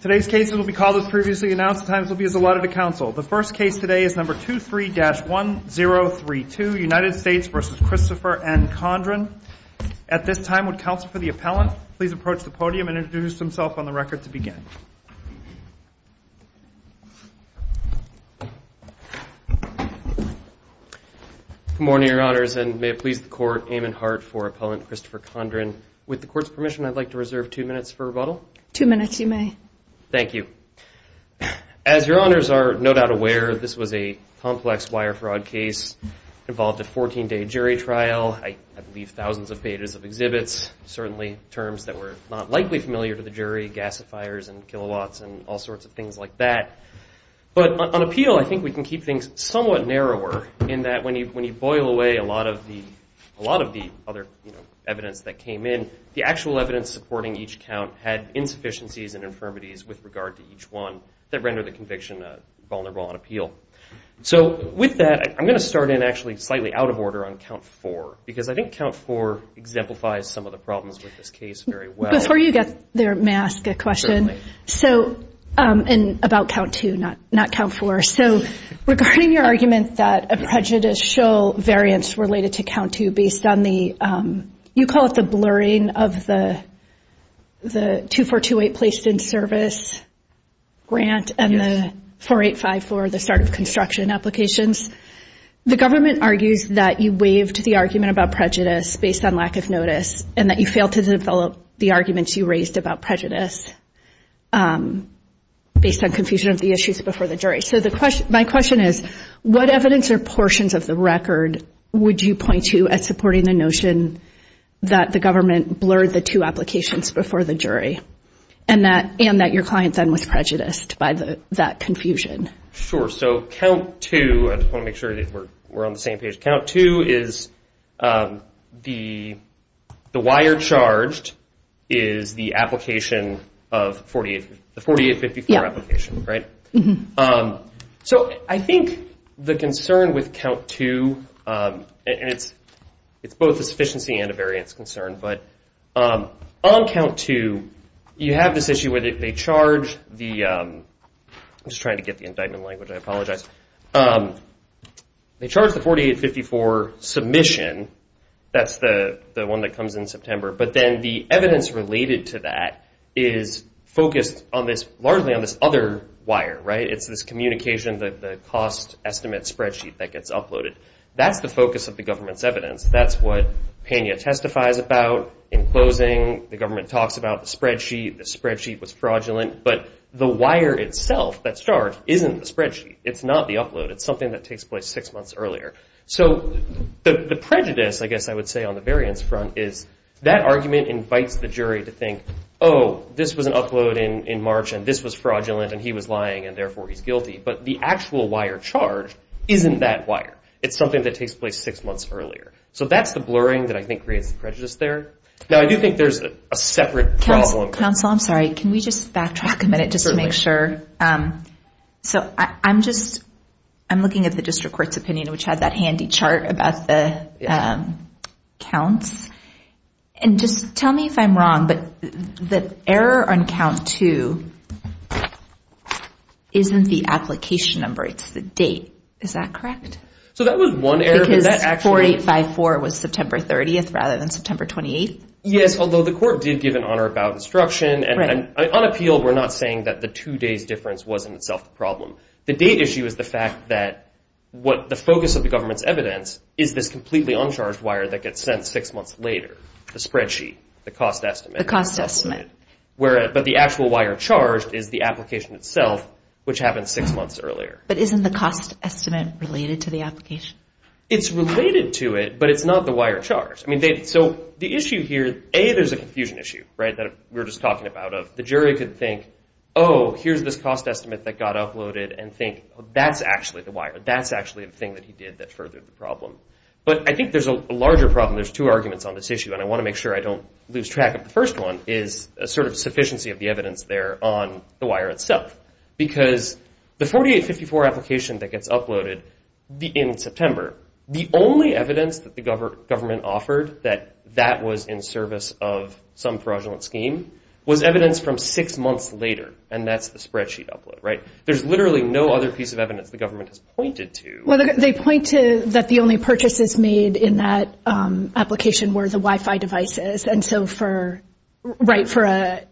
Today's case will be called as previously announced. The times will be as allotted to counsel. The first case today is number 23-1032, United States v. Christopher N. Condron. At this time, would counsel for the appellant please approach the podium and introduce himself on the record to begin. Good morning, your honors, and may it please the court, Amon Hart for appellant Christopher Condron. With the court's permission, I'd like to reserve two minutes for rebuttal. Two minutes you may. Thank you. As your honors are no doubt aware, this was a complex wire fraud case involved a 14-day jury trial. I believe thousands of pages of exhibits, certainly terms that were not likely familiar to the jury, gasifiers and kilowatts and all sorts of things like that. But on appeal, I think we can keep things somewhat narrower in that when you boil away a lot of the other evidence that came in, the actual evidence supporting each count had insufficiencies and infirmities with regard to each one that rendered the conviction vulnerable on appeal. So with that, I'm going to start in actually slightly out of order on count four because I think count four exemplifies some of the problems with this case very well. Before you get there, may I ask a question? Certainly. About count two, not count four. So regarding your argument that a prejudice show variants related to count two based on the, you call it the blurring of the 2428 placed in service grant and the 4854, the start of construction applications. The government argues that you waived the argument about prejudice based on lack of notice and that you failed to develop the arguments you raised about prejudice based on confusion of the issues before the jury. So my question is, what evidence or portions of the record would you point to as supporting the notion that the government blurred the two applications before the jury and that your client then was prejudiced by that confusion? Sure. So count two, I just want to make sure that we're on the same page. Count two is the wire charged is the application of the 4854 application, right? So I think the concern with count two, and it's both a sufficiency and a variance concern, but on count two, you have this issue where they charge the, I'm just trying to get the indictment language, I apologize. They charge the 4854 submission, that's the one that comes in September, but then the evidence related to that is focused largely on this other wire, right? It's this communication, the cost estimate spreadsheet that gets uploaded. That's what Pena testifies about in closing. The government talks about the spreadsheet. The spreadsheet was fraudulent, but the wire itself that's charged isn't the spreadsheet. It's not the upload. It's something that takes place six months earlier. So the prejudice, I guess I would say on the variance front, is that argument invites the jury to think, oh, this was an upload in March and this was fraudulent and he was lying and therefore he's guilty, but the actual wire charged isn't that wire. It's something that takes place six months earlier. So that's the blurring that I think creates the prejudice there. Now, I do think there's a separate problem. Counsel, I'm sorry. Can we just backtrack a minute just to make sure? So I'm just, I'm looking at the district court's opinion, which had that handy chart about the counts, and just tell me if I'm wrong, but the error on count two isn't the application number. It's the date. Is that correct? So that was one error. Because 4854 was September 30th rather than September 28th? Yes, although the court did give an honor about instruction, and on appeal we're not saying that the two days difference was in itself the problem. The date issue is the fact that the focus of the government's evidence is this completely uncharged wire that gets sent six months later, the spreadsheet, the cost estimate. The cost estimate. But the actual wire charged is the application itself, which happens six months earlier. But isn't the cost estimate related to the application? It's related to it, but it's not the wire charged. So the issue here, A, there's a confusion issue that we were just talking about, of the jury could think, oh, here's this cost estimate that got uploaded, and think that's actually the wire. That's actually the thing that he did that furthered the problem. But I think there's a larger problem. There's two arguments on this issue, and I want to make sure I don't lose track of the first one, is a sort of sufficiency of the evidence there on the wire itself. Because the 4854 application that gets uploaded in September, the only evidence that the government offered that that was in service of some fraudulent scheme was evidence from six months later, and that's the spreadsheet upload, right? There's literally no other piece of evidence the government has pointed to. Well, they point to that the only purchases made in that application were the Wi-Fi devices. And so for a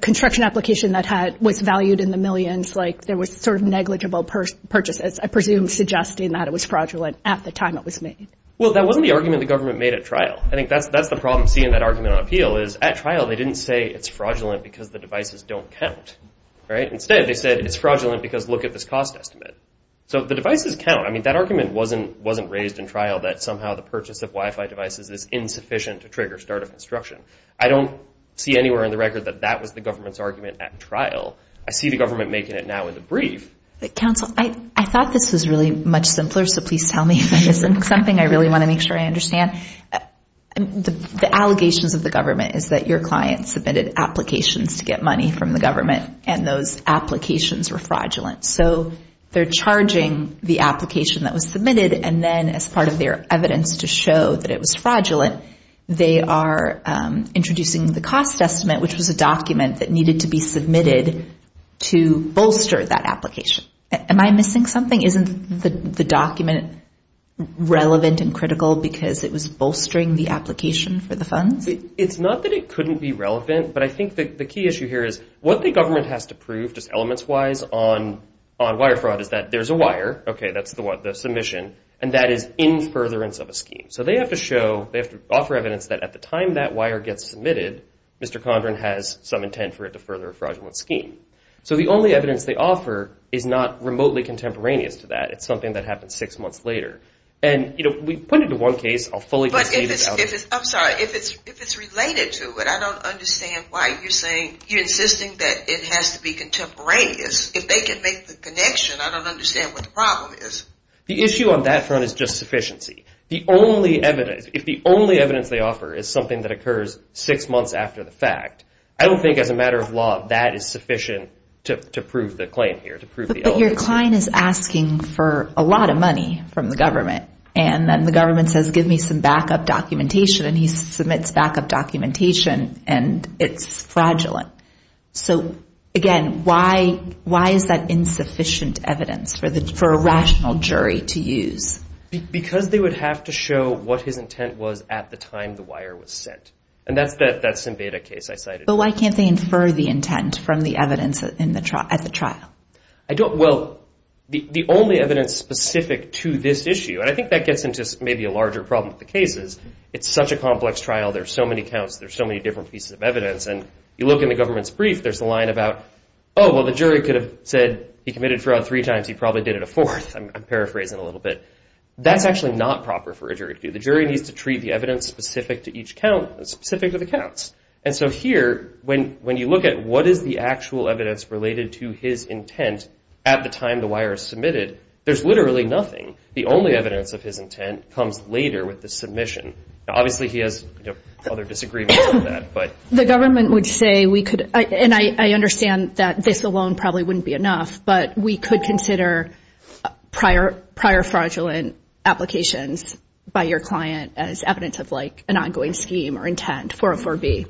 construction application that was valued in the millions, there was sort of negligible purchases, I presume, suggesting that it was fraudulent at the time it was made. Well, that wasn't the argument the government made at trial. I think that's the problem seeing that argument on appeal, is at trial they didn't say it's fraudulent because the devices don't count, right? Instead they said it's fraudulent because look at this cost estimate. So the devices count. I mean, that argument wasn't raised in trial that somehow the purchase of Wi-Fi devices is insufficient to trigger startup construction. I don't see anywhere in the record that that was the government's argument at trial. I see the government making it now in the brief. Counsel, I thought this was really much simpler, so please tell me if it isn't something. I really want to make sure I understand. The allegations of the government is that your client submitted applications to get money from the government, and those applications were fraudulent. So they're charging the application that was submitted, and then as part of their evidence to show that it was fraudulent, they are introducing the cost estimate, which was a document that needed to be submitted to bolster that application. Am I missing something? Isn't the document relevant and critical because it was bolstering the application for the funds? It's not that it couldn't be relevant, but I think the key issue here is what the government has to prove just elements-wise on wire fraud is that there's a wire. Okay, that's the one, the submission, and that is in furtherance of a scheme. So they have to show, they have to offer evidence that at the time that wire gets submitted, Mr. Condren has some intent for it to further a fraudulent scheme. So the only evidence they offer is not remotely contemporaneous to that. It's something that happened six months later. And, you know, we put it into one case. I'll fully disclaim it. I'm sorry. If it's related to it, I don't understand why you're saying, you're insisting that it has to be contemporaneous. If they can make the connection, I don't understand what the problem is. The issue on that front is just sufficiency. The only evidence, if the only evidence they offer is something that occurs six months after the fact, I don't think as a matter of law that is sufficient to prove the claim here, to prove the evidence. But your client is asking for a lot of money from the government, and then the government says give me some backup documentation, and he submits backup documentation, and it's fraudulent. So, again, why is that insufficient evidence for a rational jury to use? Because they would have to show what his intent was at the time the wire was sent. And that's the Simveda case I cited. But why can't they infer the intent from the evidence at the trial? Well, the only evidence specific to this issue, and I think that gets into maybe a larger problem with the case is it's such a complex trial. There are so many counts. There are so many different pieces of evidence. And you look in the government's brief. There's a line about, oh, well, the jury could have said he committed fraud three times. He probably did it a fourth. I'm paraphrasing a little bit. That's actually not proper for a jury to do. The jury needs to treat the evidence specific to each count, specific to the counts. And so here, when you look at what is the actual evidence related to his intent at the time the wire is submitted, there's literally nothing. The only evidence of his intent comes later with the submission. Obviously, he has other disagreements on that. The government would say we could, and I understand that this alone probably wouldn't be enough, but we could consider prior fraudulent applications by your client as evidence of, like, an ongoing scheme or intent, 404B.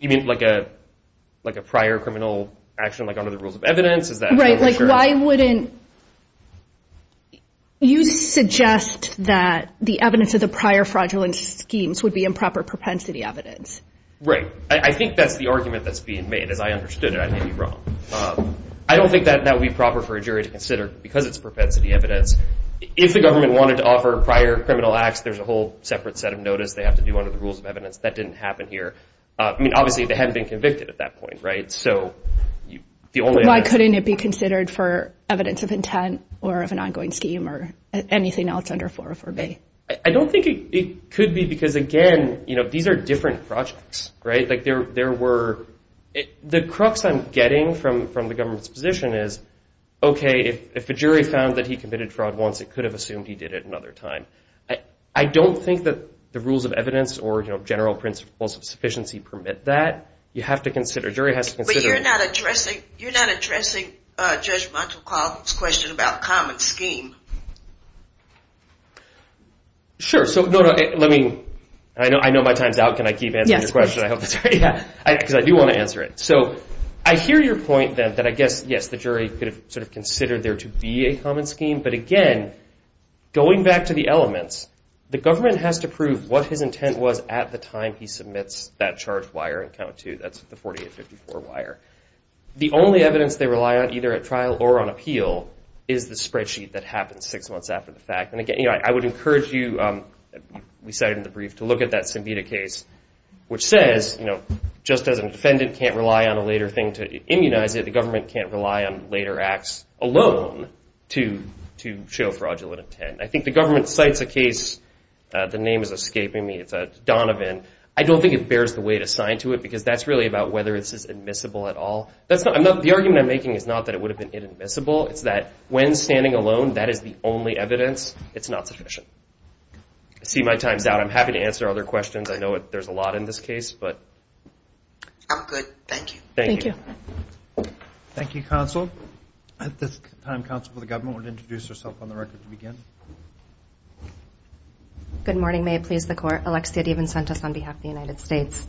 You mean like a prior criminal action, like under the rules of evidence? Right. Like, why wouldn't you suggest that the evidence of the prior fraudulent schemes would be improper propensity evidence? Right. I think that's the argument that's being made. As I understood it, I may be wrong. I don't think that that would be proper for a jury to consider because it's propensity evidence. If the government wanted to offer prior criminal acts, there's a whole separate set of notice they have to do under the rules of evidence. That didn't happen here. I mean, obviously, they hadn't been convicted at that point, right? Why couldn't it be considered for evidence of intent or of an ongoing scheme or anything else under 404B? I don't think it could be because, again, you know, these are different projects, right? Like, there were—the crux I'm getting from the government's position is, okay, if a jury found that he committed fraud once, it could have assumed he did it another time. I don't think that the rules of evidence or, you know, general principles of sufficiency permit that. You have to consider—a jury has to consider— You're not addressing Judge Montecalvo's question about common scheme. Sure. So, no, no, let me—I know my time's out. Can I keep answering your question? Yes, please. I hope that's right. Yeah, because I do want to answer it. So, I hear your point that I guess, yes, the jury could have sort of considered there to be a common scheme. But, again, going back to the elements, the government has to prove what his intent was at the time he submits that charged wire in Count 2. That's the 4854 wire. The only evidence they rely on, either at trial or on appeal, is the spreadsheet that happens six months after the fact. And, again, you know, I would encourage you—we cited in the brief—to look at that Symbita case, which says, you know, just as a defendant can't rely on a later thing to immunize it, the government can't rely on later acts alone to show fraudulent intent. I think the government cites a case—the name is escaping me—it's Donovan. I don't think it bears the weight assigned to it because that's really about whether this is admissible at all. The argument I'm making is not that it would have been inadmissible. It's that when standing alone, that is the only evidence. It's not sufficient. I see my time's out. I'm happy to answer other questions. I know there's a lot in this case. I'm good. Thank you. Thank you. Thank you, counsel. At this time, counsel for the government would introduce herself on the record to begin. Good morning. May it please the Court. Alexia DiVincentis on behalf of the United States.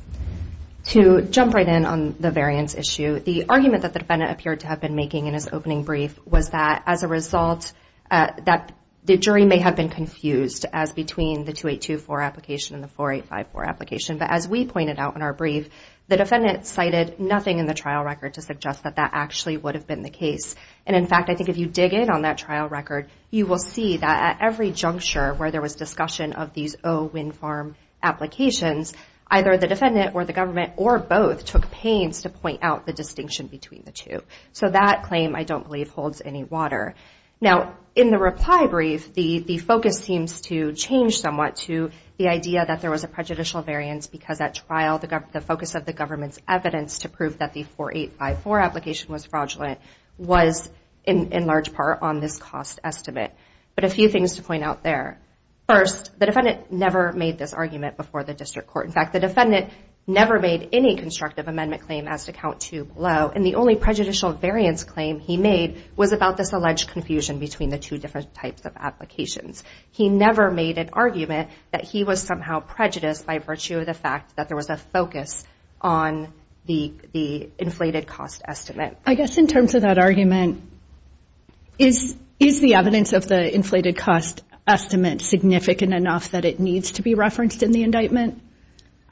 To jump right in on the variance issue, the argument that the defendant appeared to have been making in his opening brief was that as a result, that the jury may have been confused as between the 2824 application and the 4854 application. But as we pointed out in our brief, the defendant cited nothing in the trial record to suggest that that actually would have been the case. And, in fact, I think if you dig in on that trial record, you will see that at every juncture where there was discussion of these O wind farm applications, either the defendant or the government or both took pains to point out the distinction between the two. So that claim, I don't believe, holds any water. Now, in the reply brief, the focus seems to change somewhat to the idea that there was a prejudicial variance because at trial the focus of the government's evidence to prove that the 4854 application was fraudulent in large part on this cost estimate. But a few things to point out there. First, the defendant never made this argument before the district court. In fact, the defendant never made any constructive amendment claim as to count two below. And the only prejudicial variance claim he made was about this alleged confusion between the two different types of applications. He never made an argument that he was somehow prejudiced by virtue of the fact that there was a focus on the inflated cost estimate. I guess in terms of that argument, is the evidence of the inflated cost estimate significant enough that it needs to be referenced in the indictment?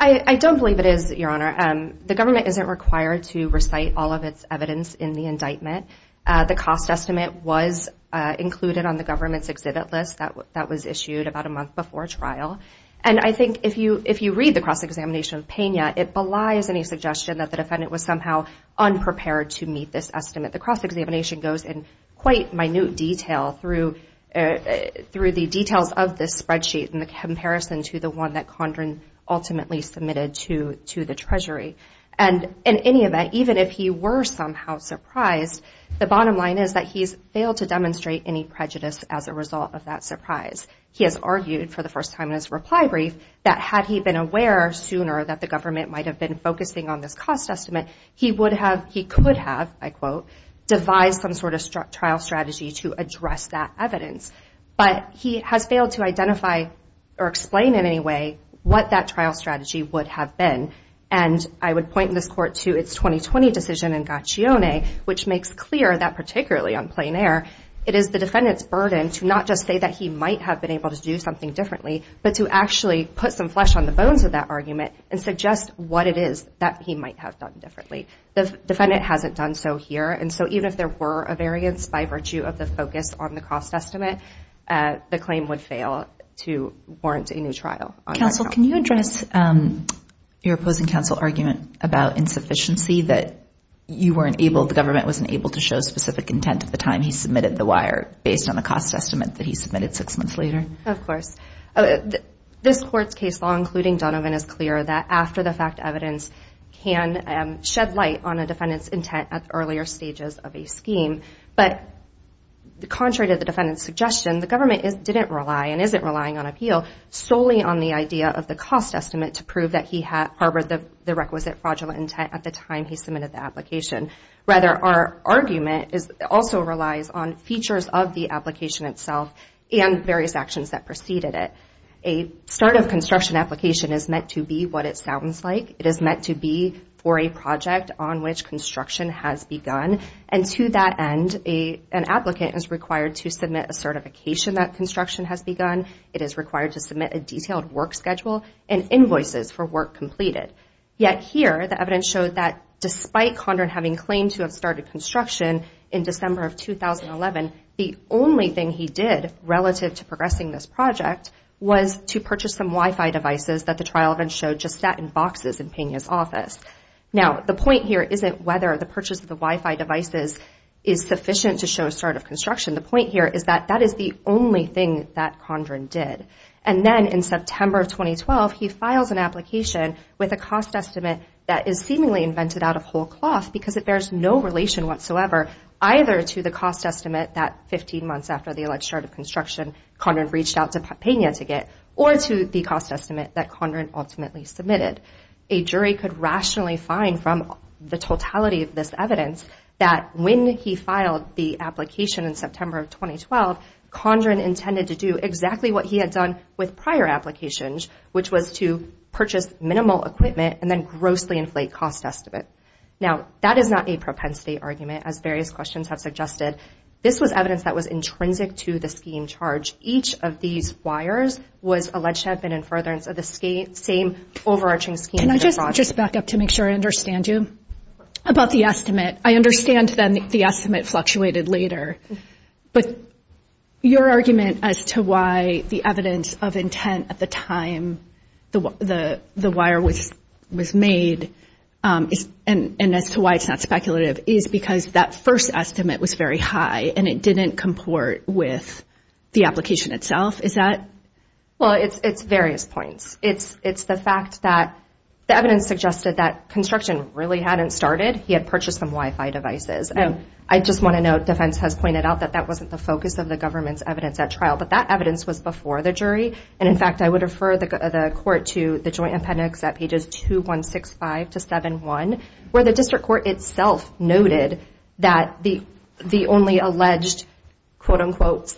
I don't believe it is, Your Honor. The government isn't required to recite all of its evidence in the indictment. The cost estimate was included on the government's exhibit list that was issued about a month before trial. And I think if you read the cross-examination of Pena, it belies any suggestion that the defendant was somehow unprepared to meet this estimate. The cross-examination goes in quite minute detail through the details of this spreadsheet in comparison to the one that Condren ultimately submitted to the Treasury. And in any event, even if he were somehow surprised, the bottom line is that he's failed to demonstrate any prejudice as a result of that surprise. He has argued for the first time in his reply brief that had he been aware sooner that the government might have been focusing on this cost estimate, he could have, I quote, devised some sort of trial strategy to address that evidence. But he has failed to identify or explain in any way what that trial strategy would have been. And I would point in this court to its 2020 decision in Gaccione, which makes clear that particularly on plein air, it is the defendant's burden to not just say that he might have been able to do something differently, but to actually put some flesh on the bones of that argument and suggest what it is that he might have done differently. The defendant hasn't done so here. And so even if there were a variance by virtue of the focus on the cost estimate, the claim would fail to warrant a new trial. Counsel, can you address your opposing counsel argument about insufficiency that you weren't able, the government wasn't able to show specific intent at the time he submitted the wire based on the cost estimate that he submitted six months later? Of course. This court's case law, including Donovan, is clear that after the fact, evidence can shed light on a defendant's intent at earlier stages of a scheme. But contrary to the defendant's suggestion, the government didn't rely and isn't relying on appeal solely on the idea of the cost estimate to prove that he harbored the requisite fraudulent intent at the time he submitted the application. Rather, our argument also relies on features of the application itself and various actions that preceded it. A start of construction application is meant to be what it sounds like. It is meant to be for a project on which construction has begun. And to that end, an applicant is required to submit a certification that construction has begun. It is required to submit a detailed work schedule and invoices for work completed. Yet here, the evidence showed that despite Condren having claimed to have started construction in December of 2011, the only thing he did relative to progressing this project was to purchase some Wi-Fi devices that the trial event showed just sat in boxes in Pena's office. Now, the point here isn't whether the purchase of the Wi-Fi devices is sufficient to show a start of construction. The point here is that that is the only thing that Condren did. And then in September of 2012, he files an application with a cost estimate that is seemingly invented out of whole cloth because it bears no relation whatsoever either to the cost estimate that 15 months after the alleged start of construction, Condren reached out to Pena to get, or to the cost estimate that Condren ultimately submitted. A jury could rationally find from the totality of this evidence that when he filed the application in September of 2012, Condren intended to do exactly what he had done with prior applications, which was to purchase minimal equipment and then grossly inflate cost estimate. Now, that is not a propensity argument, as various questions have suggested. This was evidence that was intrinsic to the scheme charge. Each of these wires was alleged to have been in furtherance of the same overarching scheme. Can I just back up to make sure I understand you about the estimate? I understand then the estimate fluctuated later. But your argument as to why the evidence of intent at the time the wire was made, and as to why it's not speculative, is because that first estimate was very high and it didn't comport with the application itself, is that? Well, it's various points. It's the fact that the evidence suggested that construction really hadn't started. He had purchased some Wi-Fi devices. And I just want to note, defense has pointed out, that that wasn't the focus of the government's evidence at trial. But that evidence was before the jury. And, in fact, I would refer the court to the joint appendix at pages 2165 to 71, where the district court itself noted that the only alleged, quote-unquote,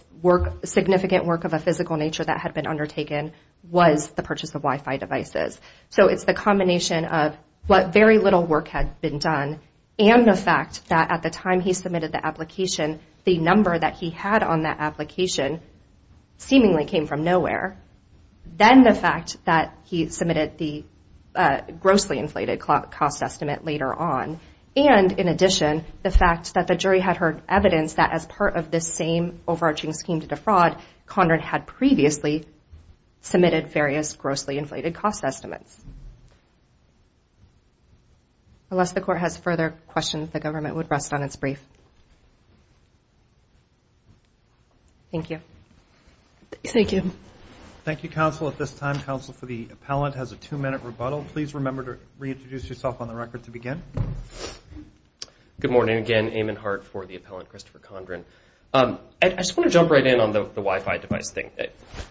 significant work of a physical nature that had been undertaken was the purchase of Wi-Fi devices. So it's the combination of what very little work had been done and the fact that at the time he submitted the application, the number that he had on that application seemingly came from nowhere. Then the fact that he submitted the grossly inflated cost estimate later on. And, in addition, the fact that the jury had heard evidence that as part of this same overarching scheme to defraud, Conrad had previously submitted various grossly inflated cost estimates. Unless the court has further questions, the government would rest on its brief. Thank you. Thank you. Thank you, counsel. At this time, counsel for the appellant has a two-minute rebuttal. Please remember to reintroduce yourself on the record to begin. Good morning. Again, Eamon Hart for the appellant, Christopher Condren. I just want to jump right in on the Wi-Fi device thing.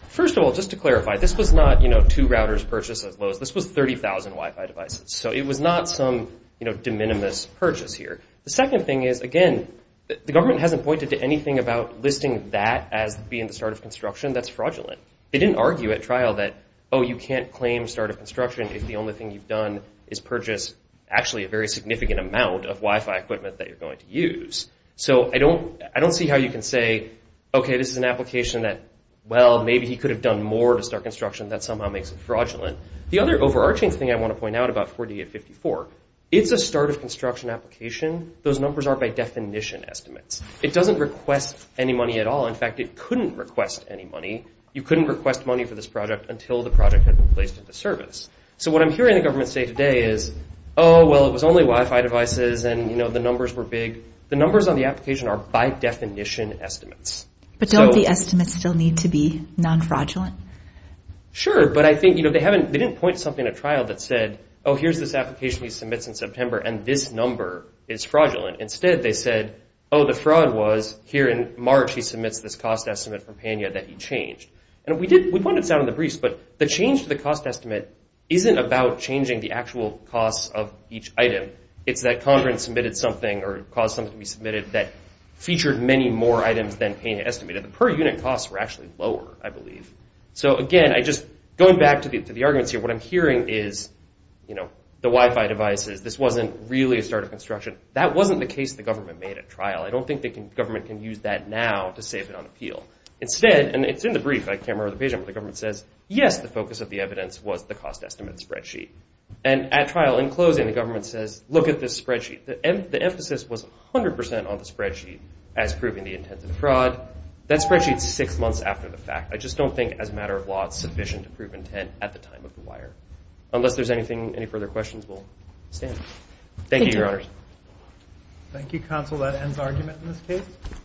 First of all, just to clarify, this was not, you know, two routers purchased as Lowe's. This was 30,000 Wi-Fi devices. So it was not some, you know, de minimis purchase here. The second thing is, again, the government hasn't pointed to anything about listing that as being the start of construction. That's fraudulent. They didn't argue at trial that, oh, you can't claim start of construction if the only thing you've done is purchase, actually, a very significant amount of Wi-Fi equipment that you're going to use. So I don't see how you can say, okay, this is an application that, well, maybe he could have done more to start construction. That somehow makes it fraudulent. The other overarching thing I want to point out about 4854, it's a start of construction application. Those numbers are by definition estimates. It doesn't request any money at all. In fact, it couldn't request any money. You couldn't request money for this project until the project had been placed into service. So what I'm hearing the government say today is, oh, well, it was only Wi-Fi devices, and, you know, the numbers were big. The numbers on the application are by definition estimates. But don't the estimates still need to be non-fraudulent? Sure, but I think, you know, they haven't, they didn't point to something at trial that said, oh, here's this application he submits in September, and this number is fraudulent. Instead they said, oh, the fraud was here in March he submits this cost estimate from PANYA that he changed. And we did, we pointed this out in the briefs, but the change to the cost estimate isn't about changing the actual cost of each item. It's that Conrad submitted something or caused something to be submitted that featured many more items than PANYA estimated. The per-unit costs were actually lower, I believe. So, again, I just, going back to the arguments here, what I'm hearing is, you know, the Wi-Fi devices, this wasn't really a start of construction. That wasn't the case the government made at trial. I don't think the government can use that now to save it on appeal. Instead, and it's in the brief, I can't remember the page number, the government says, yes, the focus of the evidence was the cost estimate spreadsheet. And at trial, in closing, the government says, look at this spreadsheet. The emphasis was 100% on the spreadsheet as proving the intent of fraud. That spreadsheet's six months after the fact. I just don't think, as a matter of law, it's sufficient to prove intent at the time of the wire. Unless there's anything, any further questions, we'll stand. Thank you, Your Honors. Thank you, Counsel. That ends argument in this case.